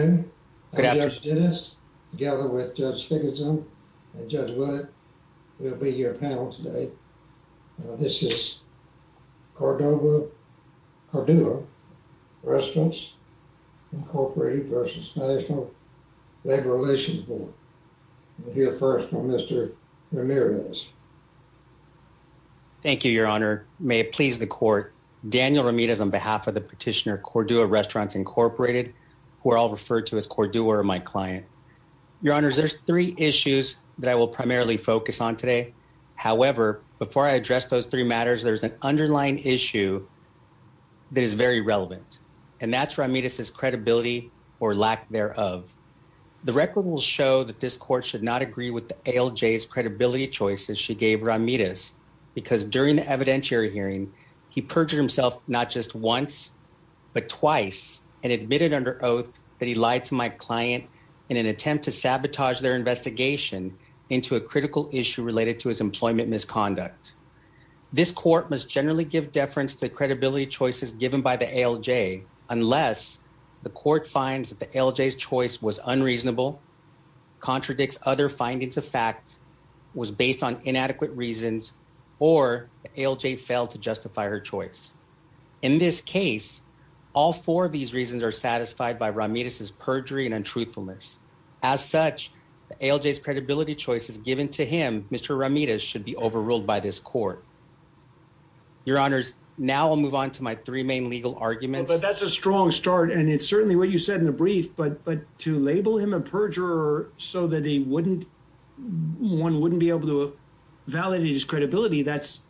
Cordua Restaurants, Inc. v. National Labor Relations Board Thank you, Your Honor. May it please the Court, Daniel Ramirez, on behalf of the My client. Your Honor, there's three issues that I will primarily focus on today. However, before I address those three matters, there's an underlying issue that is very relevant, and that's Ramirez's credibility or lack thereof. The record will show that this Court should not agree with the ALJ's credibility choices she gave Ramirez because during the evidentiary hearing, he perjured himself not just once but twice and admitted under oath that he lied to my client in an attempt to sabotage their investigation into a critical issue related to his employment misconduct. This Court must generally give deference to the credibility choices given by the ALJ unless the Court finds that the ALJ's choice was unreasonable, contradicts other findings of fact, was based on inadequate reasons, or the ALJ failed to justify her choice. In this case, all four of these reasons are satisfied by Ramirez's perjury and untruthfulness. As such, the ALJ's credibility choices given to him, Mr. Ramirez, should be overruled by this Court. Your Honors, now I'll move on to my three main legal arguments. But that's a strong start, and it's certainly what you said in the brief, but to label him a perjurer so that he wouldn't, one wouldn't be able to validate his credibility, that's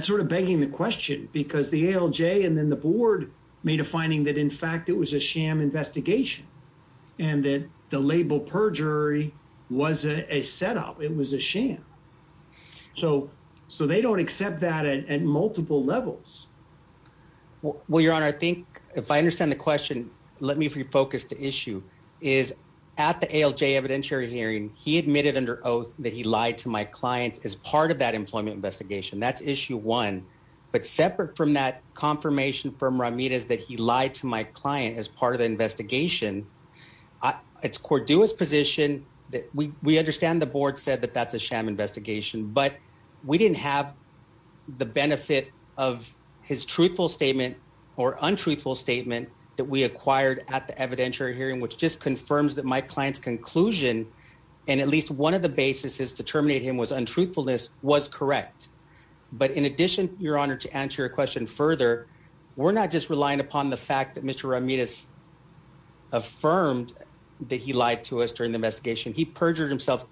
sort of begging the question because the ALJ and then the Board made a finding that in fact it was a sham investigation and that the label perjury wasn't a setup, it was a sham. So they don't accept that at multiple levels. Well, Your Honor, I think if I understand the question, let me refocus the issue, is at the ALJ evidentiary hearing, he admitted under oath that he lied to my client as part of employment investigation. That's issue one. But separate from that confirmation from Ramirez that he lied to my client as part of the investigation, it's Cordua's position that we understand the Board said that that's a sham investigation, but we didn't have the benefit of his truthful statement or untruthful statement that we acquired at the evidentiary hearing, which just confirms that my client's conclusion, and at least one of the basis is to terminate him was untruthfulness, was correct. But in addition, Your Honor, to answer your question further, we're not just relying upon the fact that Mr. Ramirez affirmed that he lied to us during the investigation. He perjured himself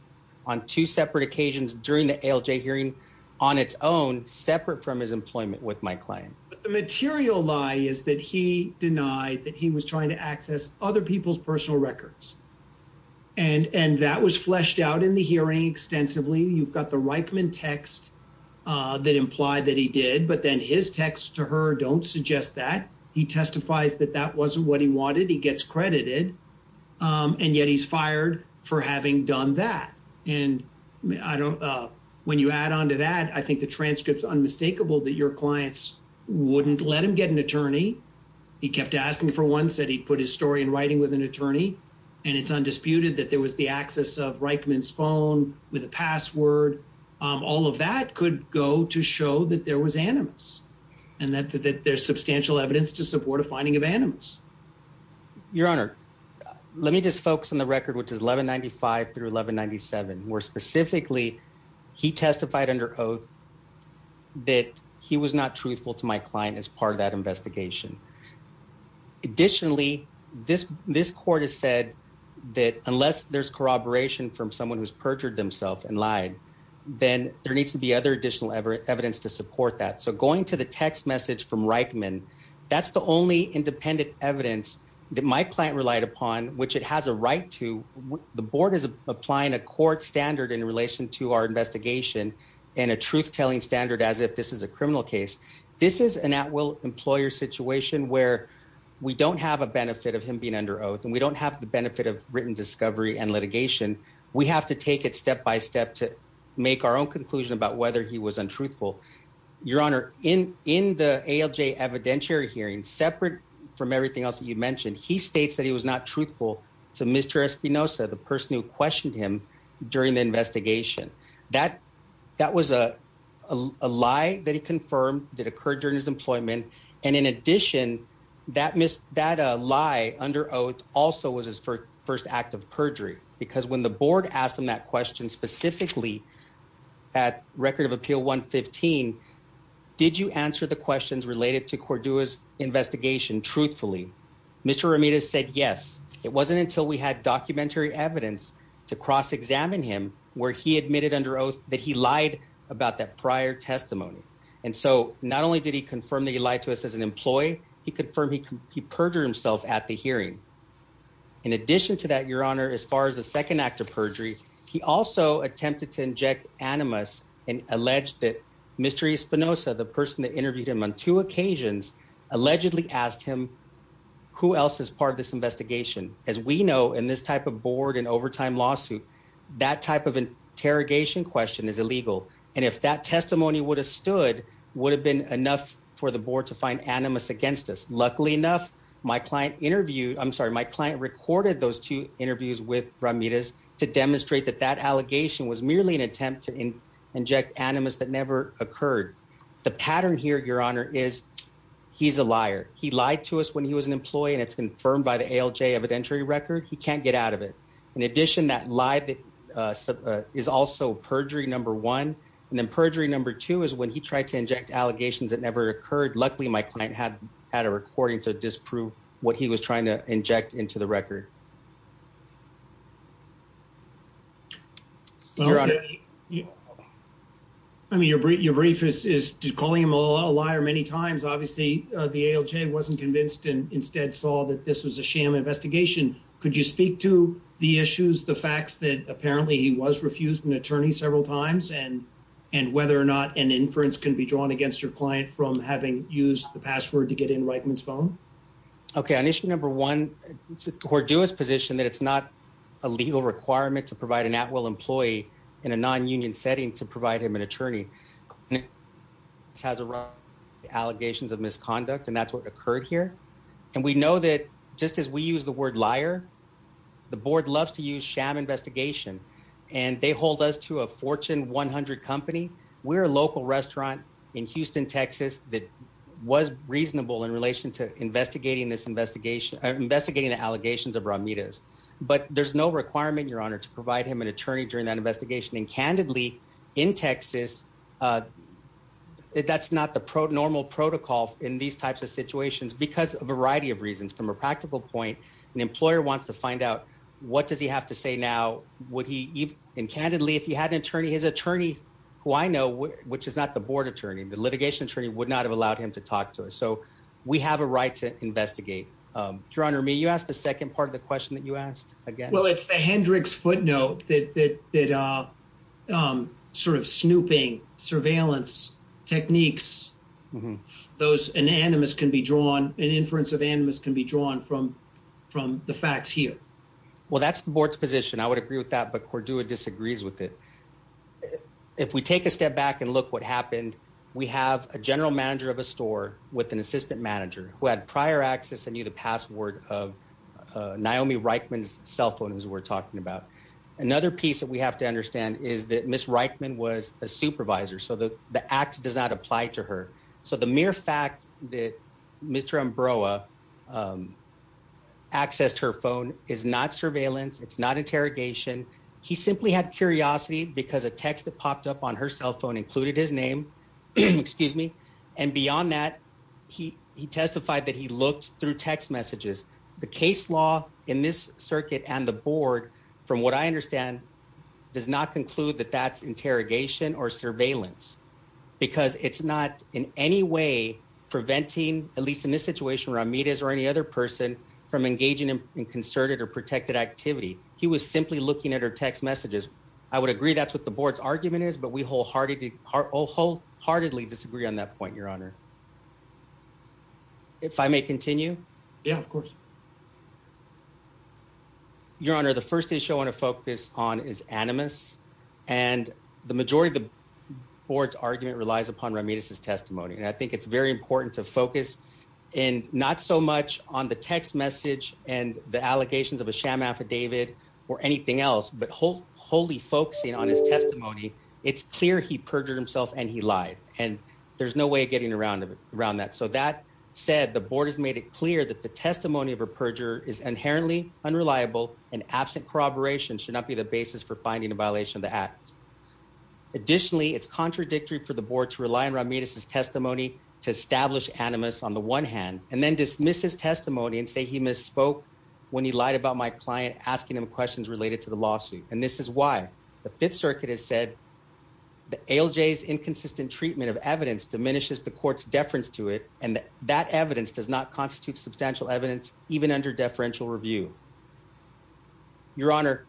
on two separate occasions during the ALJ hearing on its own, separate from his employment with my client. But the material lie is that he denied that he was trying to access other people's personal records, and that was fleshed out in the hearing extensively. You've the Reichman text that implied that he did, but then his text to her don't suggest that. He testifies that that wasn't what he wanted. He gets credited, and yet he's fired for having done that. And when you add on to that, I think the transcript's unmistakable that your clients wouldn't let him get an attorney. He kept asking for one, said he put his story in writing with and it's undisputed that there was the access of Reichman's phone with a password. All of that could go to show that there was animus and that there's substantial evidence to support a finding of animus. Your Honor, let me just focus on the record, which is 1195 through 1197, where specifically he testified under oath that he was not truthful to my client as part of that court. Unless there's corroboration from someone who's perjured themselves and lied, then there needs to be other additional evidence to support that. Going to the text message from Reichman, that's the only independent evidence that my client relied upon, which it has a right to. The board is applying a court standard in relation to our investigation and a truth-telling standard as if this is a criminal case. This is an at-will employer situation where we don't have benefit of him being under oath and we don't have the benefit of written discovery and litigation. We have to take it step by step to make our own conclusion about whether he was untruthful. Your Honor, in the ALJ evidentiary hearing, separate from everything else that you mentioned, he states that he was not truthful to Mr. Espinoza, the person who questioned him during the investigation. That was a lie that he confirmed that occurred during his employment. In addition, that lie under oath also was his first act of perjury because when the board asked him that question specifically at Record of Appeal 115, did you answer the questions related to Cordua's investigation truthfully? Mr. Ramirez said yes. It wasn't until we had documentary evidence to cross-examine him where he admitted under oath that he lied about that prior testimony. Not only did he confirm that he lied to us as an employee, he confirmed he perjured himself at the hearing. In addition to that, Your Honor, as far as the second act of perjury, he also attempted to inject animus and alleged that Mr. Espinoza, the person that interviewed him on two occasions, allegedly asked him who else is part of this investigation. As we know, in this type of board and overtime lawsuit, that type of interrogation question is illegal. If that testimony would have stood, it would have been enough for the board to find animus against us. Luckily enough, my client recorded those two interviews with Ramirez to demonstrate that that allegation was merely an attempt to inject animus that never occurred. The pattern here, Your Honor, is he's a liar. He lied to us when he was an employee and it's confirmed by the ALJ evidentiary record. He can't get out of it. In addition, that lie that is also perjury number one and then perjury number two is when he tried to inject allegations that never occurred. Luckily, my client had had a recording to disprove what he was trying to inject into the record. I mean, your brief is calling him a liar many times. Obviously, the ALJ wasn't convinced and instead saw that this was a sham investigation. Could you speak to the issues, the facts that apparently he was refused an attorney several times and whether or not an inference can be drawn against your client from having used the password to get in Reitman's phone? Okay, on issue number one, it's a cordial position that it's not a legal requirement to provide an at-will employee in a non-union setting to provide him an attorney. This has arrived allegations of misconduct and that's what occurred here and we know that just as we use the word liar, the board loves to use sham investigation and they hold us to a Fortune 100 company. We're a local restaurant in Houston, Texas that was reasonable in relation to investigating this investigation, investigating the allegations of Ramirez but there's no requirement, your honor, to provide him an attorney during that investigation and candidly in Texas, that's not the normal protocol in these types of situations because a variety of reasons. From a practical point, an employer wants to find out what does he have to say now, would he even, and candidly, if he had an attorney, his attorney who I know, which is not the board attorney, the litigation attorney, would not have allowed him to talk to us so we have a right to investigate. Your honor, may you ask the second part of the question that you asked again? Well, it's the Hendricks footnote that sort of snooping surveillance techniques, those anonymous can be drawn, an inference of animus can be drawn from the facts here. Well, that's the board's position. I would agree with that but Cordua disagrees with it. If we take a step back and look what happened, we have a general manager of a store with an assistant manager who had prior access and knew the password of Naomi Reichman's cell phone, we're talking about. Another piece that we have to understand is that Ms. Reichman was a supervisor so the act does not apply to her. So the mere fact that Mr. Ambroa accessed her phone is not surveillance, it's not interrogation. He simply had curiosity because a text that popped up on her cell phone included his name, and beyond that, he testified that he from what I understand does not conclude that that's interrogation or surveillance because it's not in any way preventing, at least in this situation, Ramirez or any other person from engaging in concerted or protected activity. He was simply looking at her text messages. I would agree that's what the board's argument is, but we wholeheartedly disagree on that point, Your Honor. If I may continue? Yeah, of course. Your Honor, the first issue I want to focus on is animus, and the majority of the board's argument relies upon Ramirez's testimony, and I think it's very important to focus in not so much on the text message and the allegations of a sham affidavit or anything else but wholly focusing on his testimony. It's clear he perjured himself and he lied, and there's no way of getting around that. So that said, the board has made it clear that the testimony of a perjurer is inherently unreliable and absent corroboration should not be the basis for finding a violation of the act. Additionally, it's contradictory for the board to rely on Ramirez's testimony to establish animus on the one hand and then dismiss his testimony and say he misspoke when he lied about my client asking him questions related to the diminishes the court's deference to it, and that evidence does not constitute substantial evidence even under deferential review. Your Honor,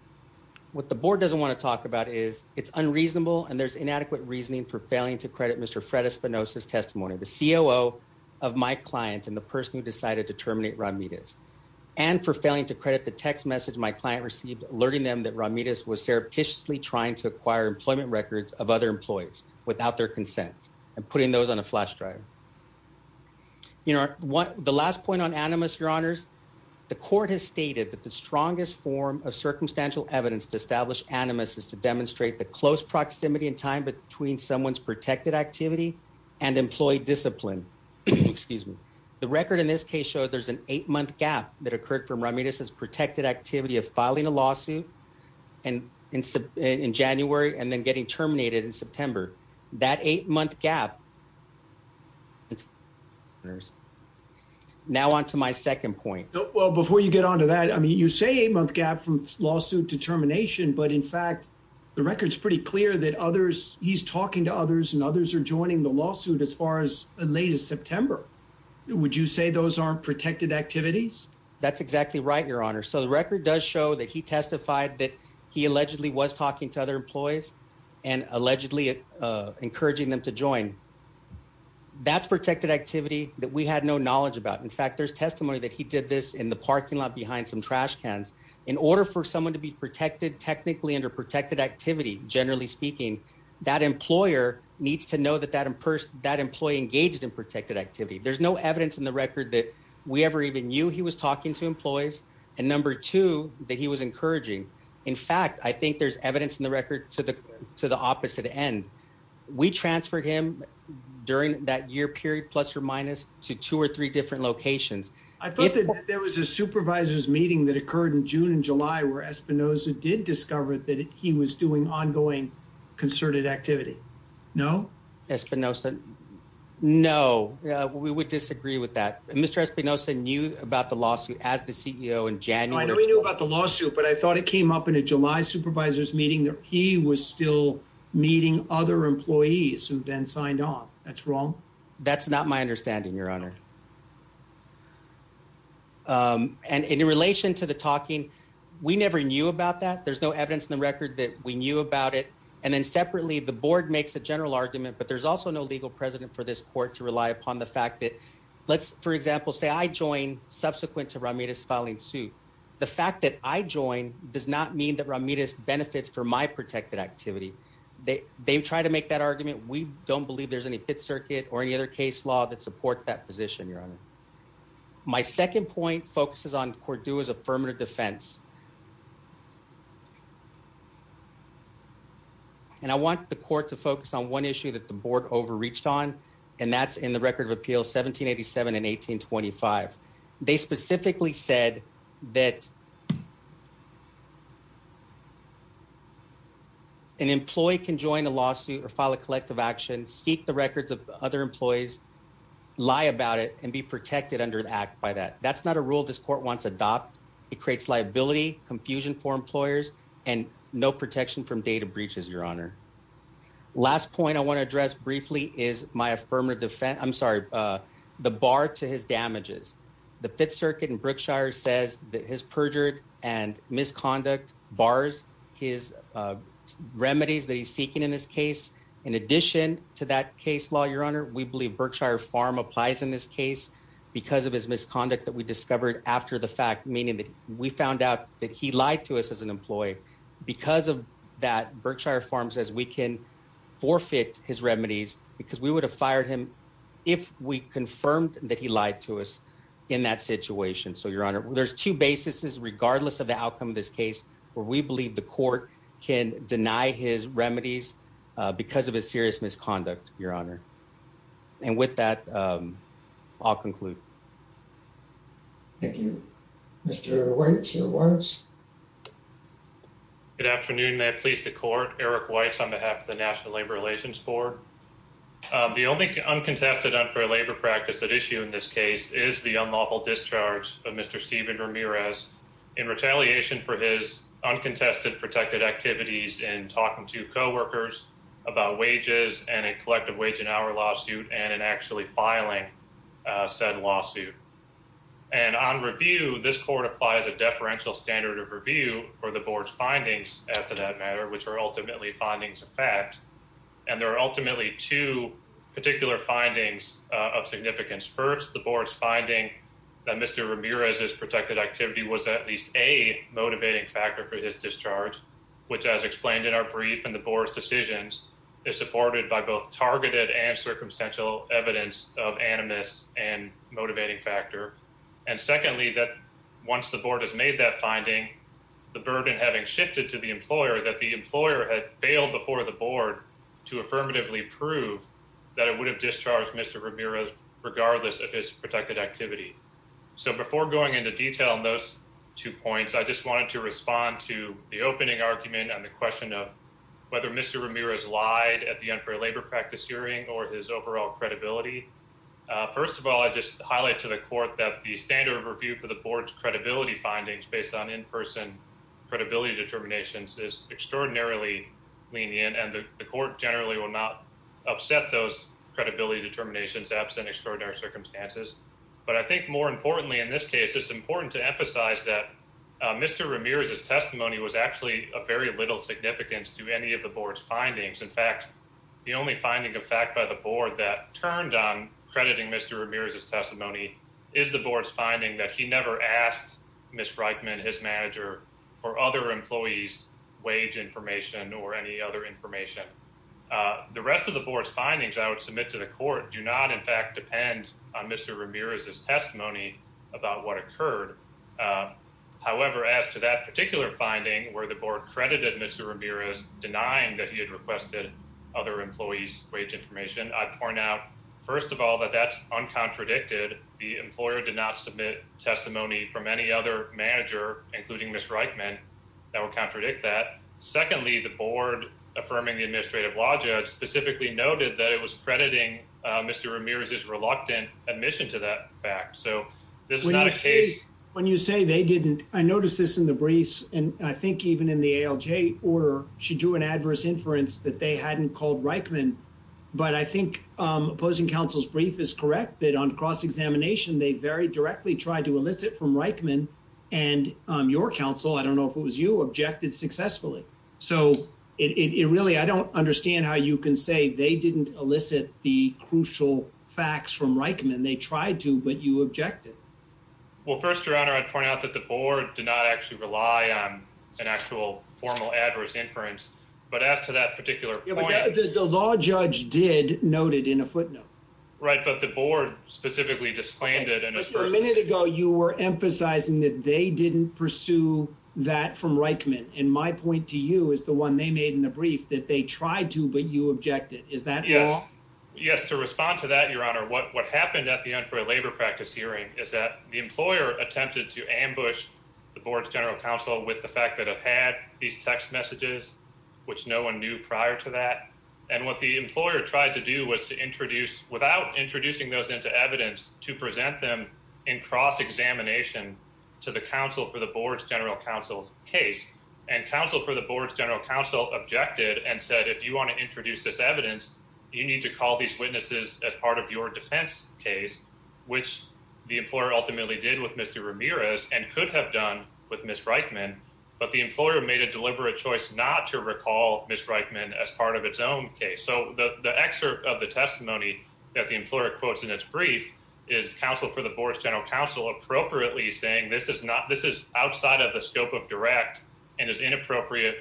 what the board doesn't want to talk about is it's unreasonable and there's inadequate reasoning for failing to credit Mr. Fred Espinosa's testimony, the COO of my client and the person who decided to terminate Ramirez, and for failing to credit the text message my client received alerting them that Ramirez was surreptitiously trying to acquire employment records of other employees without their consent, and putting those on a flash drive. You know what the last point on animus, Your Honors, the court has stated that the strongest form of circumstantial evidence to establish animus is to demonstrate the close proximity in time between someone's protected activity and employee discipline. Excuse me, the record in this case showed there's an eight-month gap that occurred from Ramirez's activity of filing a lawsuit in January and then getting terminated in September. That eight-month gap... Now on to my second point. Well, before you get on to that, I mean you say eight-month gap from lawsuit to termination, but in fact the record's pretty clear that others, he's talking to others and others are joining the lawsuit as far as as late as September. Would you say those aren't protected activities? That's exactly right, Your Honor. So the record does show that he testified that he allegedly was talking to other employees and allegedly encouraging them to join. That's protected activity that we had no knowledge about. In fact, there's testimony that he did this in the parking lot behind some trash cans. In order for someone to be protected technically under protected activity, generally speaking, that employer needs to know that that employee engaged in protected activity. There's no evidence in the record that we ever even knew he was talking to employees and number two, that he was encouraging. In fact, I think there's evidence in the record to the to the opposite end. We transferred him during that year period, plus or minus, to two or three different locations. I thought that there was a supervisor's meeting that occurred in June and July where Espinoza did discover that he was doing ongoing concerted activity. No, Espinoza. No, we would disagree with that. Mr. Espinoza knew about the lawsuit as the CEO in January. We knew about the lawsuit, but I thought it came up in a July supervisor's meeting that he was still meeting other employees who then signed off. That's wrong. That's not my understanding, Your Honor. And in relation to the talking, we never knew about that. There's no evidence in the record that we knew about it. And then separately, the board makes a general argument, but there's also no legal precedent for this court to rely upon the fact that let's, for example, say I join subsequent to Ramirez filing suit. The fact that I join does not mean that Ramirez benefits for my protected activity. They've tried to make that argument. We don't believe there's any pit circuit or any other case law that supports that position, Your Honor. My second point focuses on Cordue's defense. And I want the court to focus on one issue that the board overreached on, and that's in the record of appeals 1787 and 1825. They specifically said that an employee can join a lawsuit or file a collective action, seek the records of other employees, lie about it and be protected under the act by that. That's not a rule this creates liability, confusion for employers and no protection from data breaches, Your Honor. Last point I want to address briefly is my affirmative defense. I'm sorry, the bar to his damages. The Fifth Circuit in Brookshire says that his perjured and misconduct bars his remedies that he's seeking in this case. In addition to that case law, Your Honor, we believe Brookshire Farm applies in this case because of his misconduct that we discovered after the fact, meaning that we found out that he lied to us as an employee. Because of that, Brookshire Farm says we can forfeit his remedies because we would have fired him if we confirmed that he lied to us in that situation. So, Your Honor, there's two basis is regardless of the outcome of this case where we believe the court can deny his remedies because of a serious misconduct, Your Honor. And with that, um, I'll conclude. Thank you, Mr White. Your words. Good afternoon. May I please the court Eric White's on behalf of the National Labor Relations Board. The only uncontested unfair labor practice that issue in this case is the unlawful discharge of Mr Steven Ramirez in retaliation for his uncontested protected activities and talking to coworkers about wages and a collective wage an hour lawsuit and actually filing said lawsuit. And on review, this court applies a deferential standard of review for the board's findings as to that matter, which were ultimately findings of fact. And there are ultimately two particular findings of significance. First, the board's finding that Mr Ramirez is protected activity was at least a motivating factor for his discharge, which, as explained in our brief in the board's decisions, is supported by both targeted and circumstantial evidence of animus and motivating factor. And secondly, that once the board has made that finding, the burden having shifted to the employer that the employer had failed before the board to affirmatively prove that it would have discharged Mr Ramirez regardless of his activity. So before going into detail on those two points, I just wanted to respond to the opening argument on the question of whether Mr Ramirez lied at the unfair labor practice hearing or his overall credibility. First of all, I just highlight to the court that the standard of review for the board's credibility findings based on in person credibility determinations is extraordinarily lenient, and the court generally will not upset those credibility determinations absent extraordinary circumstances. But I think more importantly, in this case, it's important to emphasize that Mr Ramirez's testimony was actually a very little significance to any of the board's findings. In fact, the only finding of fact by the board that turned on crediting Mr Ramirez's testimony is the board's finding that he never asked Miss Reitman, his manager, for other employees wage information or any other information. The rest of the board's findings I would submit to the court do not, in fact, depend on Mr Ramirez's testimony about what occurred. However, as to that particular finding where the board credited Mr Ramirez denying that he had requested other employees wage information, I point out, first of all, that that's uncontradicted. The employer did not submit testimony from any other manager, including Miss Reitman, that would contradict that. Secondly, the board affirming the administrative law judge specifically noted that it was crediting Mr Ramirez's reluctant admission to that fact. So this is not a case when you say they didn't. I noticed this in the briefs, and I think even in the ALJ order, she drew an adverse inference that they hadn't called Reitman. But I think opposing counsel's brief is correct that on cross examination, they very directly tried to elicit from Reitman and your counsel. I don't know if it was you objected successfully. So it really I don't understand how you can say they didn't elicit the crucial facts from Reitman. They tried to, but you objected. Well, first, your honor, I'd point out that the board did not actually rely on an actual formal adverse inference. But as to that particular point, the law judge did noted in a footnote, right? But the board specifically disclaimed it. And a minute ago, you were emphasizing that they didn't pursue that from Reitman. And my point to you is the one they made in the brief that they tried to, but you objected. Is that yes? Yes. To respond to that, your honor. What happened at the end for a labor practice hearing is that the employer attempted to ambush the board's general counsel with the fact that I've had these text messages, which no one knew prior to that. And what the employer tried to do was to introduce without introducing those into evidence to present them in cross examination to the council for the board's general counsel's case and counsel for the board's general counsel objected and said, if you want to introduce this evidence, you need to call these witnesses as part of your defense case, which the employer ultimately did with Mr Ramirez and could have done with Miss Reitman. But the employer made a deliberate choice not to recall Miss Reitman as part of its own case. So the excerpt of the testimony that the employer quotes in its brief is counsel for the board's general counsel appropriately saying this is not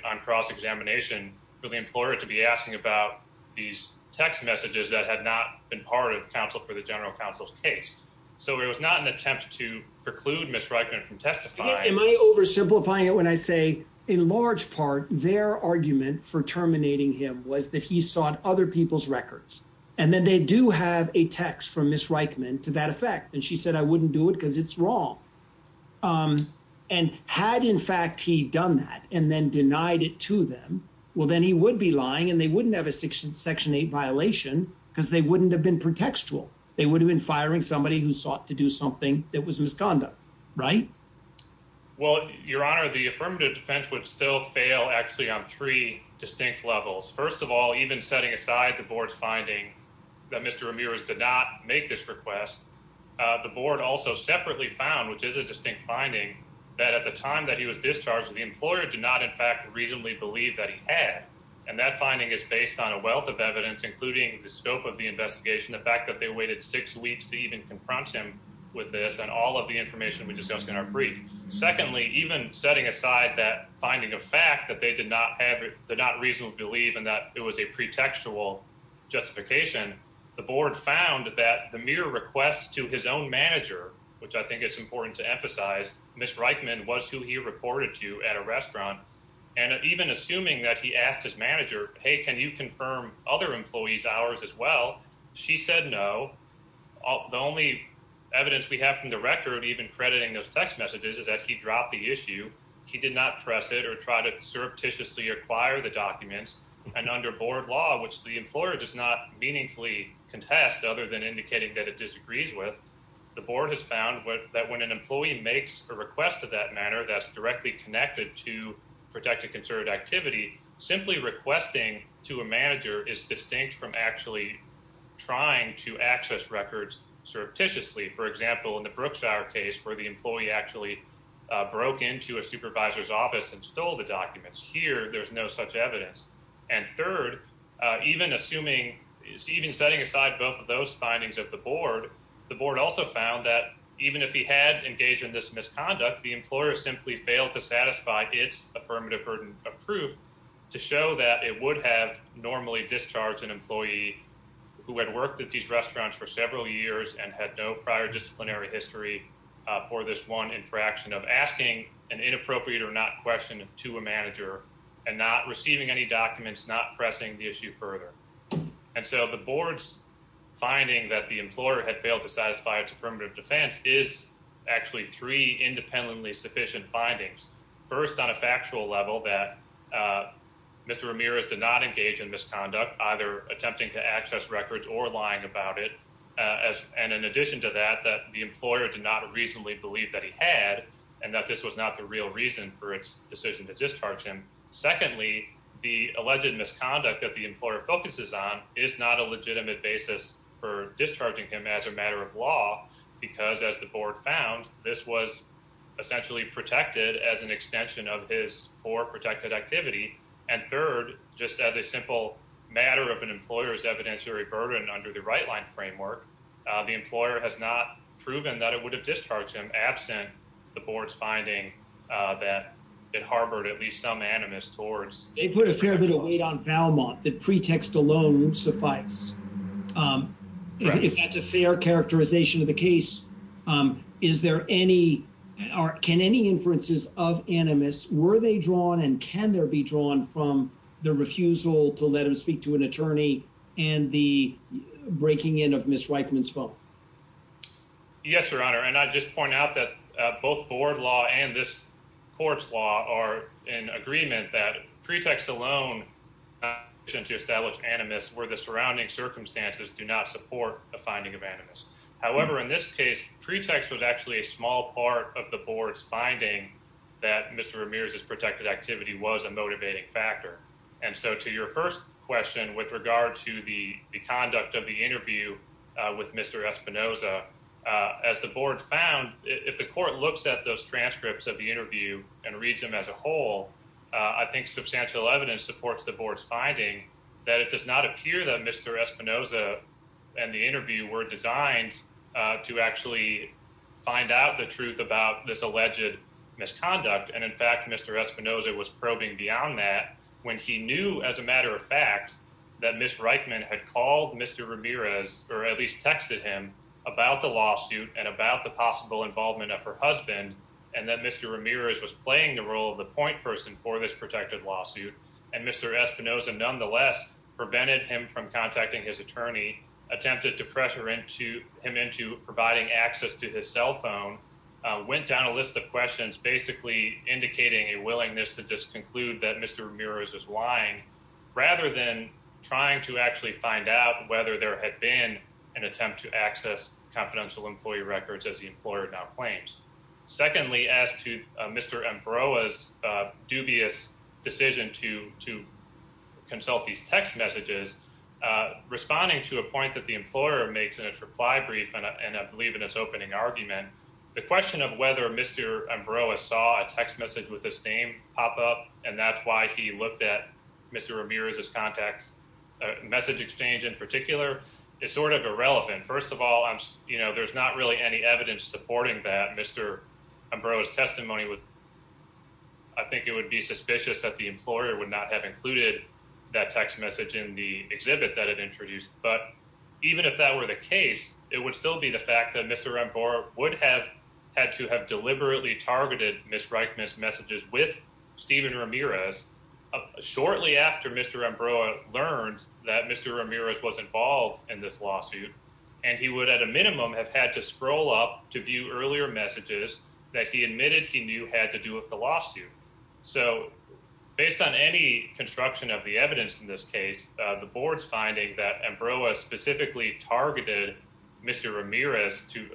on cross examination for the employer to be asking about these text messages that had not been part of counsel for the general counsel's case. So it was not an attempt to preclude Miss Reitman from testifying. Am I oversimplifying it when I say in large part, their argument for terminating him was that he sought other people's records and then they do have a text from Miss Reitman to that effect. And she said, I wouldn't do it because it's wrong. Um, and had in fact, he done that and then denied it to them. Well, then he would be lying and they wouldn't have a section section eight violation because they wouldn't have been pretextual. They would have been firing somebody who sought to do something that was misconduct, right? Well, your honor, the affirmative defense would still fail actually on three distinct levels. First of all, even setting aside the board's finding that Mr Ramirez did not make this request. Uh, the board also separately found, which is a distinct finding that at the time that he was discharged, the employer did not in fact reasonably believe that he had. And that finding is based on a wealth of evidence, including the scope of the investigation, the fact that they waited six weeks to even confront him with this and all of the information we discussed in our brief. Secondly, even setting aside that finding a fact that they did not have, did not reasonably believe in that it was a pretextual justification, the board found that the mirror requests to his own manager, which I think it's important to emphasize Miss Reichman was who he reported to at a restaurant. And even assuming that he asked his manager, Hey, can you confirm other employees hours as well? She said, No, the only evidence we have from the record, even crediting those text messages is that he dropped the issue. He did not press it or try to surreptitiously acquire the documents and under board law, which the employer does not meaningfully contest other than indicating that it disagrees with the board has found that when an employee makes a request of that manner that's directly connected to protect a concerted activity, simply requesting to a manager is distinct from actually trying to access records surreptitiously. For example, in the Brooks our case where the employee actually broke into a supervisor's office and stole the documents here, there's no such evidence. And third, even assuming even setting aside both of those findings of the board, the board also found that even if he had engaged in this misconduct, the employer simply failed to satisfy its affirmative burden of proof to show that it would have normally discharged an employee who had worked at these restaurants for several years and had no prior disciplinary history for this one infraction of asking an inappropriate or not question to a manager and not receiving any documents, not pressing the issue further. And so the board's finding that the employer had failed to satisfy its affirmative defense is actually three independently sufficient findings. First, on a factual level that Mr Ramirez did not engage in misconduct, either attempting to access records or lying about it. And in addition to that, that the employer did not reasonably believe that he had and that this was not the real reason for its decision to discharge him. Secondly, the alleged misconduct that the employer focuses on is not a legitimate basis for discharging him as a matter of law, because as the board found, this was essentially protected as an extension of his or protected activity. And third, just as a simple matter of an employer's evidentiary burden under the right line framework, the employer has not proven that it would have discharged him absent the board's finding that it harbored at least some animus towards. They put a fair bit of weight on Valmont that pretext alone suffice. If that's a fair characterization of the case, is there any or can any inferences of animus? Were they drawn and can there be drawn from the refusal to let him speak to an attorney and the breaking in of Miss Reichman's phone? Yes, Your Honor, and I just point out that both board law and this court's law are in agreement that pretext alone, uh, since you established animus where the surrounding circumstances do not support the finding of animus. However, in this case, pretext was actually a small part of the board's finding that Mr Ramirez is protected. Activity was a motivating factor. And so to your first question with regard to the conduct of the interview with Mr Esquivel, uh, as the board found, if the court looks at those transcripts of the interview and reads them as a whole, I think substantial evidence supports the board's finding that it does not appear that Mr Espinoza and the interview were designed to actually find out the truth about this alleged misconduct. And in fact, Mr Espinosa was probing beyond that when he knew, as a matter of fact, that Miss Reichman had called Mr Ramirez or at least texted him about the lawsuit and about the possible involvement of her husband and that Mr Ramirez was playing the role of the point person for this protected lawsuit. And Mr Espinoza, nonetheless, prevented him from contacting his attorney, attempted to pressure into him into providing access to his cell phone, went down a list of questions, basically indicating a willingness to just conclude that Mr Ramirez is lying rather than trying to actually find out whether there had been an attempt to access confidential employee records as the employer now claims. Secondly, as to Mr Ambrose's dubious decision to to consult these text messages, responding to a point that the employer makes in its reply brief, and I believe in its opening argument, the question of whether Mr Ambrose saw a text message with his name pop up, and that's why he looked at Mr Ramirez's contacts. Message exchange in particular is sort of irrelevant. First of all, you know, there's not really any evidence supporting that Mr Ambrose's testimony would. I think it would be suspicious that the employer would not have included that text message in the exhibit that it introduced. But even if that were the case, it would still be the fact that Mr Ambrose would have had to have deliberately targeted Miss messages with Stephen Ramirez shortly after Mr Ambrose learned that Mr Ramirez was involved in this lawsuit, and he would at a minimum have had to scroll up to view earlier messages that he admitted he knew had to do with the lawsuit. So based on any construction of the evidence in this case, the board's finding that Ambrose specifically targeted Mr Ramirez to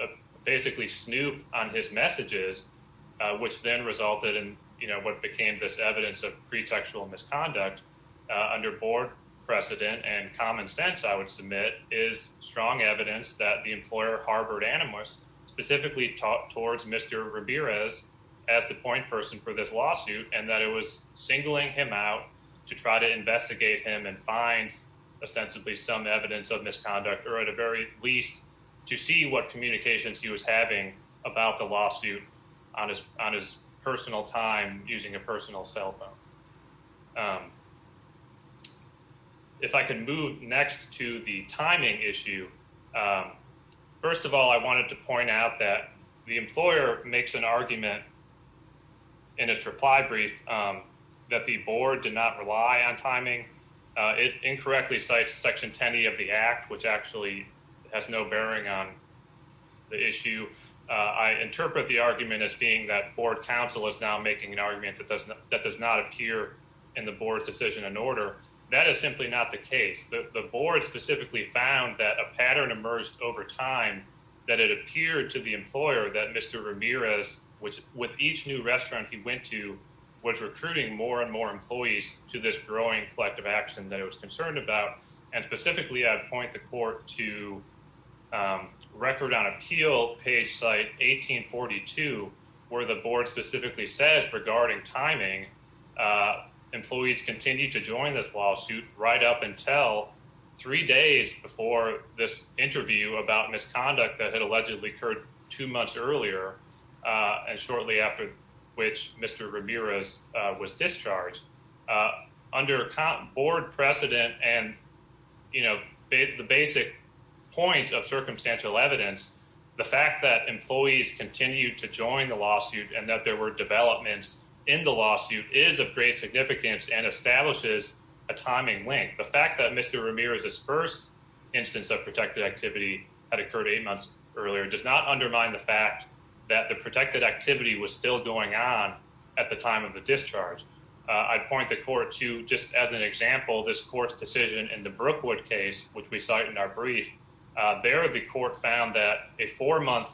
you know, what became this evidence of pretextual misconduct under board precedent and common sense, I would submit, is strong evidence that the employer Harvard Animus specifically talked towards Mr Ramirez as the point person for this lawsuit and that it was singling him out to try to investigate him and find ostensibly some evidence of misconduct or at a very least to what communications he was having about the lawsuit on his personal time using a personal cell phone. If I can move next to the timing issue, first of all, I wanted to point out that the employer makes an argument in its reply brief that the board did not rely on timing. It incorrectly cites Section 10 of the Act, which actually has no bearing on the issue. I interpret the argument as being that board council is now making an argument that doesn't that does not appear in the board's decision and order. That is simply not the case. The board specifically found that a pattern emerged over time that it appeared to the employer that Mr Ramirez, which with each new restaurant he went to, was recruiting more and more employees to this growing collective action that it was concerned about. And specifically, I'd point the court to record on appeal page site 18 42, where the board specifically says regarding timing, uh, employees continue to join this lawsuit right up until three days before this interview about misconduct that had allegedly occurred two months earlier and shortly after which Mr Ramirez was discharged under board precedent. And, you know, the basic point of circumstantial evidence, the fact that employees continue to join the lawsuit and that there were developments in the lawsuit is of great significance and establishes a timing link. The fact that Mr Ramirez's first instance of protected activity had occurred eight months earlier does not undermine the fact that the protected activity was still going on at the time of the discharge. I'd point the court to just as an example, this court's decision in the Brookwood case, which we cite in our brief there, the court found that a four month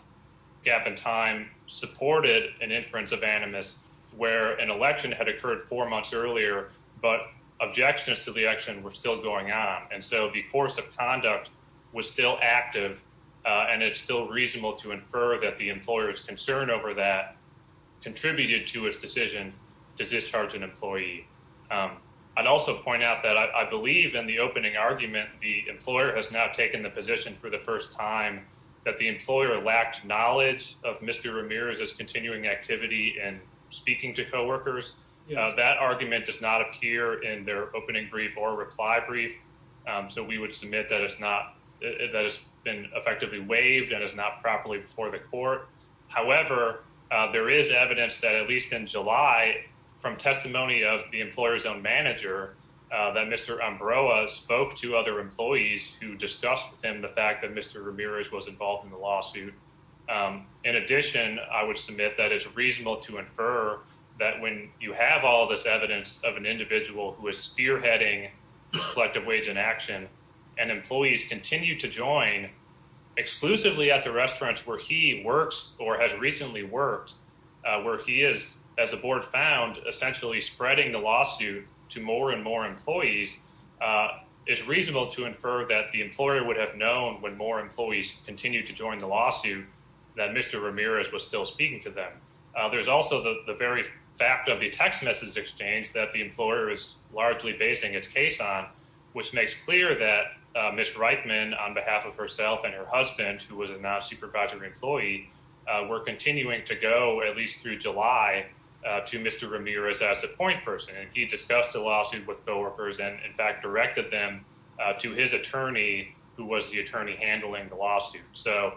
gap in time supported an inference of animus where an election had occurred four months earlier, but objections to the action were still going on. And so the course of conduct was still active, and it's still reasonable to infer that the employer's concern over that contributed to his decision to discharge an employee. I'd also point out that I believe in the opening argument, the employer has now taken the position for the first time that the employer lacked knowledge of Mr Ramirez's continuing activity and speaking to co workers. That argument does not appear in their opening brief or reply brief. So we would submit that that has been effectively waived and is not properly before the court. However, there is evidence that at least in July, from testimony of the employer's own manager, that Mr Ambrose spoke to other employees who discussed with him the fact that Mr Ramirez was involved in the lawsuit. In addition, I would submit that it's reasonable to infer that when you have all this evidence of an individual who is spearheading this collective wage inaction and employees continue to join exclusively at the restaurants where he works or has recently worked, where he is, as the board found, essentially spreading the lawsuit to more and more employees, it's reasonable to infer that the employer would have known when more employees continue to join the lawsuit that Mr Ramirez was still speaking to them. There's also the very fact of the text message exchange that the employer is largely basing its case on, which makes clear that Miss Reitman, on behalf of herself and her husband, who was a non supervisory employee, were continuing to go at least through July to Mr Ramirez as a point person. And he discussed the lawsuit with co workers and, in fact, directed them to his attorney, who was the attorney handling the lawsuit. So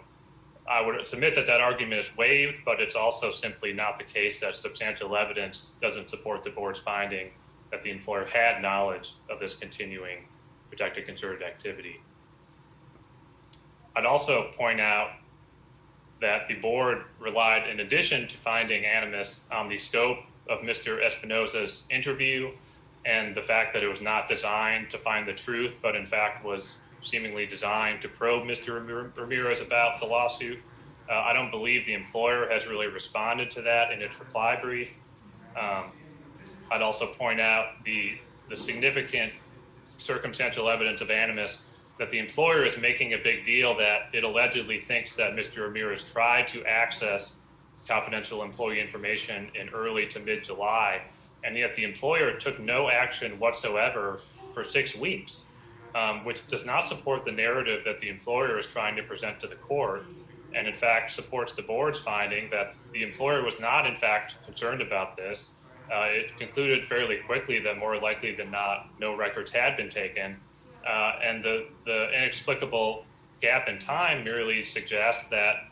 I would submit that that argument is waived, but it's also simply not the case that substantial evidence doesn't support the board's finding that the employer had knowledge of this continuing protected concerted activity. I'd also point out that the board relied, in addition to finding animus on the scope of Mr Espinoza's interview and the fact that it was not designed to find the truth, but in fact was seemingly designed to probe Mr Ramirez about the lawsuit. I don't believe the employer has really responded to that in its reply brief. I'd also point out the significant circumstantial evidence of animus that the employer is making a big deal that it allegedly thinks that Mr Ramirez tried to access confidential employee information in early to mid July, and yet the employer took no action whatsoever for six weeks, which does not support the narrative that the employer is trying to present to the court. And in fact supports the board's finding that the employer was not in fact concerned about this. It concluded fairly quickly that more likely than not, no records had been taken. And the inexplicable gap in time merely suggests that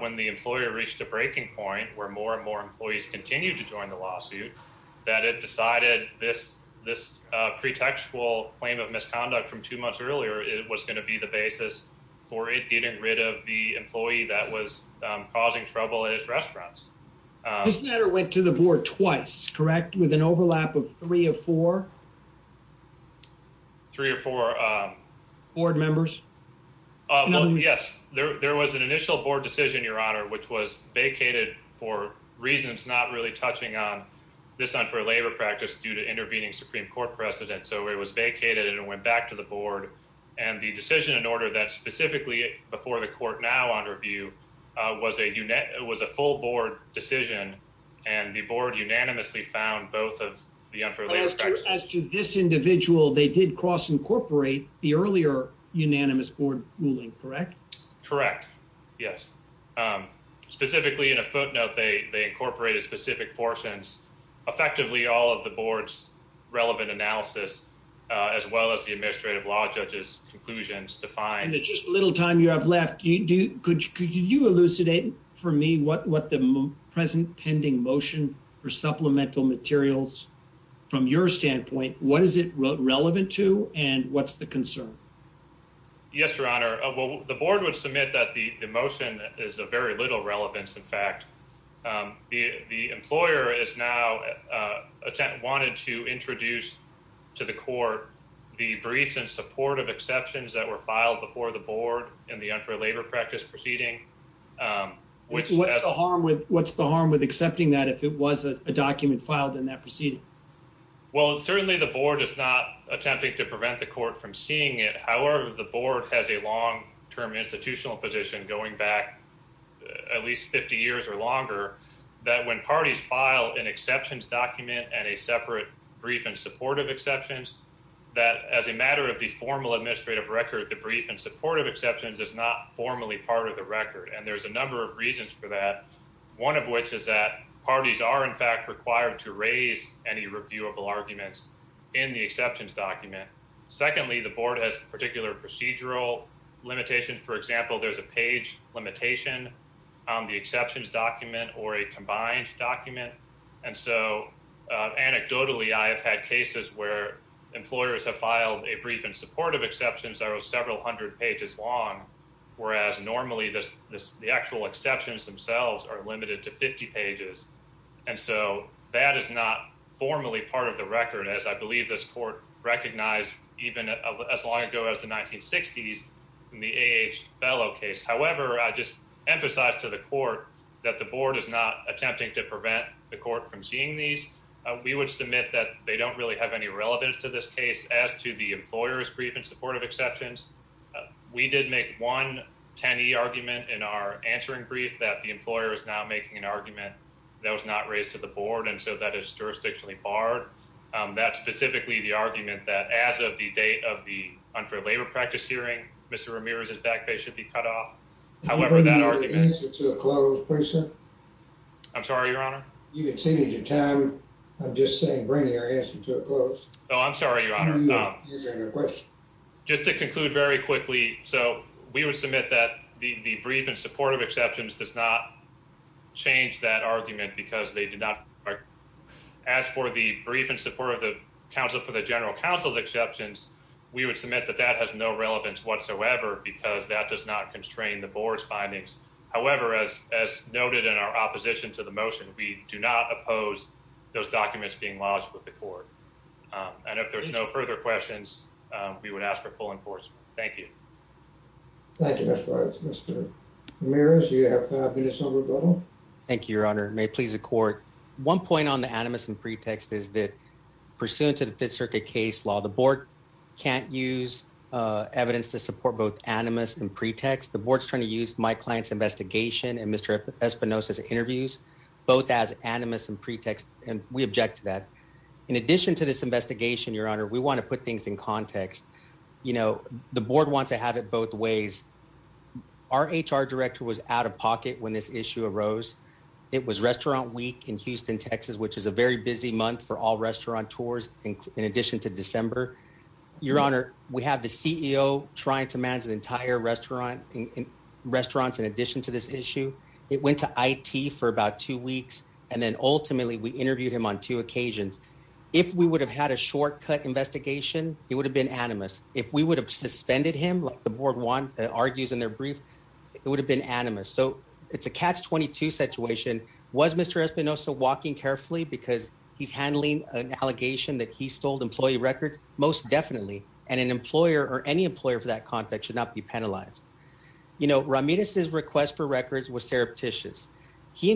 when the employer reached a breaking point where more and more employees continue to join the lawsuit, that it decided this pretextual claim of misconduct from two months earlier, it was going to be the basis for it getting rid of employee that was causing trouble in his restaurants. This matter went to the board twice, correct? With an overlap of three or four? Three or four. Board members? Yes, there was an initial board decision, Your Honor, which was vacated for reasons not really touching on this unfair labor practice due to intervening Supreme Court precedent. So it was vacated and went back to the board. And the decision in order that specifically before the review was a full board decision and the board unanimously found both of the unfair labor practice. As to this individual, they did cross-incorporate the earlier unanimous board ruling, correct? Correct, yes. Specifically in a footnote, they incorporated specific portions, effectively all of the board's relevant analysis, as well as the administrative law judge's conclusions to find. Just a little time you have left. Could you elucidate for me what the present pending motion for supplemental materials, from your standpoint, what is it relevant to and what's the concern? Yes, Your Honor. The board would submit that the motion is of very little relevance, in fact. The employer is now wanted to introduce to the court the briefs in support of the board and the unfair labor practice proceeding. What's the harm with accepting that if it was a document filed in that proceeding? Well, certainly the board is not attempting to prevent the court from seeing it. However, the board has a long-term institutional position going back at least 50 years or longer that when parties file an exceptions document and a separate brief in support of exceptions, that as a matter of the formal administrative record, the brief in support of exceptions is not formally part of the record. And there's a number of reasons for that, one of which is that parties are, in fact, required to raise any reviewable arguments in the exceptions document. Secondly, the board has particular procedural limitations. For example, there's a page limitation on the exceptions document or a combined document. And so anecdotally, I have had cases where employers have filed a brief in support of exceptions that are several hundred pages long, whereas normally the actual exceptions themselves are limited to 50 pages. And so that is not formally part of the record, as I believe this court recognized even as long ago as the 1960s in the A.H. Bellow case. However, I just emphasize to the court that the board is attempting to prevent the court from seeing these. We would submit that they don't really have any relevance to this case. As to the employer's brief in support of exceptions, we did make one 10E argument in our answering brief that the employer is now making an argument that was not raised to the board, and so that is jurisdictionally barred. That's specifically the argument that as of the date of the unfair labor practice hearing, Mr. Ramirez's back pay should be cut off. However, that argument— I'm sorry, Your Honor? You exceeded your time. I'm just saying bring your answer to a close. Oh, I'm sorry, Your Honor. Just to conclude very quickly, so we would submit that the brief in support of exceptions does not change that argument because they did not—as for the brief in support of the general counsel's exceptions, we would submit that that has no relevance whatsoever because that does not We do not oppose those documents being lodged with the court, and if there's no further questions, we would ask for full enforcement. Thank you. Thank you, Mr. Rice. Mr. Ramirez, you have five minutes on rebuttal. Thank you, Your Honor. May it please the court. One point on the animus and pretext is that pursuant to the Fifth Circuit case law, the board can't use evidence to support both animus and both as animus and pretext, and we object to that. In addition to this investigation, Your Honor, we want to put things in context. You know, the board wants to have it both ways. Our HR director was out of pocket when this issue arose. It was restaurant week in Houston, Texas, which is a very busy month for all restauranteurs in addition to December. Your Honor, we have the CEO trying to manage an entire restaurant in restaurants in addition to this two weeks, and then ultimately we interviewed him on two occasions. If we would have had a shortcut investigation, it would have been animus. If we would have suspended him, like the board argues in their brief, it would have been animus. So it's a catch-22 situation. Was Mr. Espinosa walking carefully because he's handling an allegation that he stole employee records? Most definitely, and an employer or any employer for that context should not be penalized. You know, Ramirez's request for records was surreptitious. He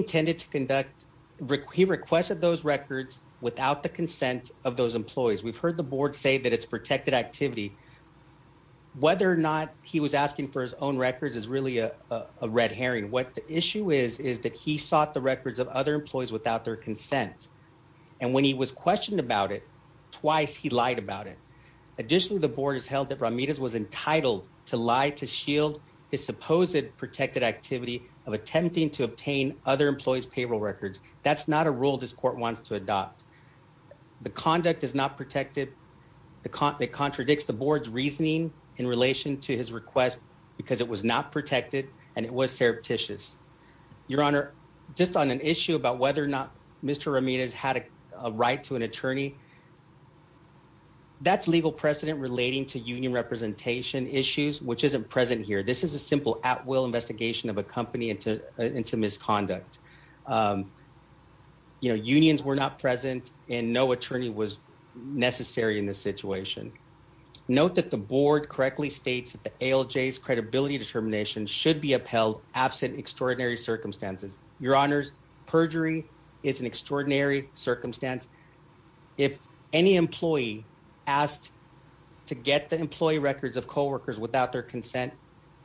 requested those records without the consent of those employees. We've heard the board say that it's protected activity. Whether or not he was asking for his own records is really a red herring. What the issue is is that he sought the records of other employees without their consent, and when he was questioned about it twice, he lied about it. Additionally, the board has held that Ramirez was entitled to lie to shield his supposed protected activity of attempting to obtain other employees' payroll records. That's not a rule this court wants to adopt. The conduct is not protected. It contradicts the board's reasoning in relation to his request because it was not protected and it was surreptitious. Your Honor, just on an issue about whether or not Mr. Ramirez had a right to an attorney, that's legal precedent relating to union representation issues, which isn't present here. This is a simple at-will investigation of a company into misconduct. You know, unions were not present and no attorney was necessary in this situation. Note that the board correctly states that the ALJ's credibility determination should be upheld absent extraordinary circumstances. Your Honor, perjury is an extraordinary circumstance. If any employee asked to get the employee records of co-workers without their consent,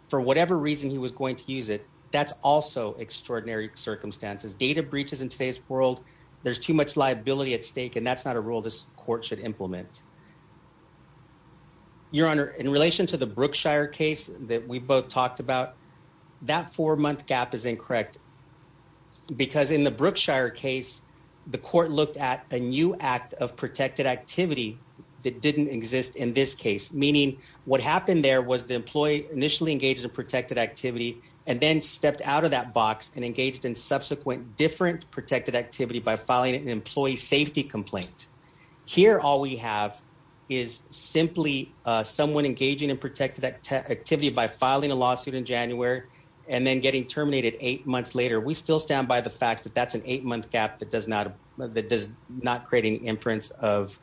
for whatever reason he was going to use it, that's also extraordinary circumstances. Data breaches in today's world, there's too much liability at stake and that's not a rule this court should implement. Your Honor, in relation to the Brookshire case that we both talked about, that four-month gap is incorrect because in the Brookshire case, the court looked at a new act of protected activity that didn't exist in this case, meaning what happened there was the employee initially engaged in protected activity and then stepped out of that box and engaged in subsequent different protected activity by filing an employee safety complaint. Here, all we have is simply someone engaging in protected activity by filing a lawsuit in January and then getting terminated eight months later. We still stand by the fact that that's an eight-month gap that does not create an inference of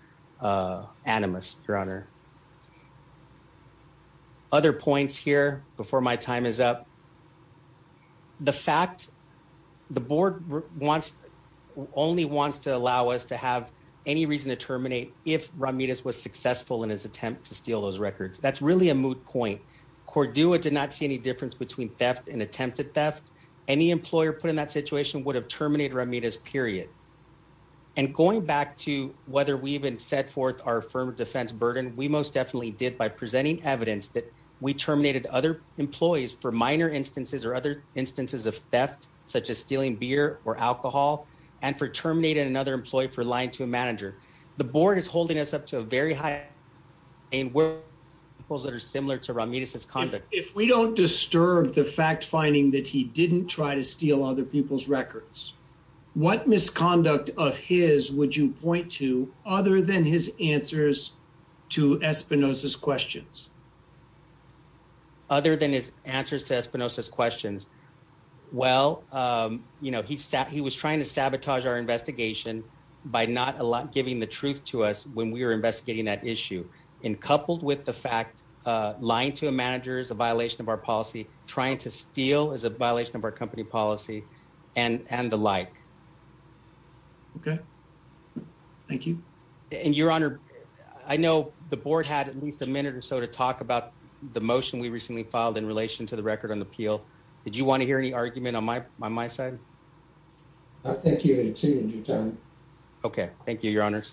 animus, Your Honor. Other points here before my time is up. The fact the board only wants to allow us to have any reason to terminate if Ramirez was successful in his attempt to steal those records, that's really a moot point. Cordua did not see any difference between theft and attempted theft. Any employer put in that situation would have terminated Ramirez, period. And going back to whether we even set forth our firm defense burden, we most definitely did by presenting evidence that we terminated other employees for minor instances or other instances of theft, such as stealing beer or alcohol, and for terminating another employee for lying to a manager. The board is holding us up to a very high and where those that are similar to Ramirez's conduct. If we don't disturb the fact finding that he didn't try to steal other people's records, what misconduct of his would you point to other than his answers to Espinosa's questions? Other than his answers to Espinosa's questions? Well, he was trying to sabotage our investigation by not giving the truth to us when we were investigating that issue. And coupled with the fact lying to a manager is a violation of our policy, trying to steal is a violation of our company policy and the like. Okay. Thank you. And your honor, I know the board had at least a minute or so to talk about the motion we recently filed in relation to the record on the appeal. Did you want to hear any argument on my side? I think you've exceeded your time. Okay. Thank you, your honors.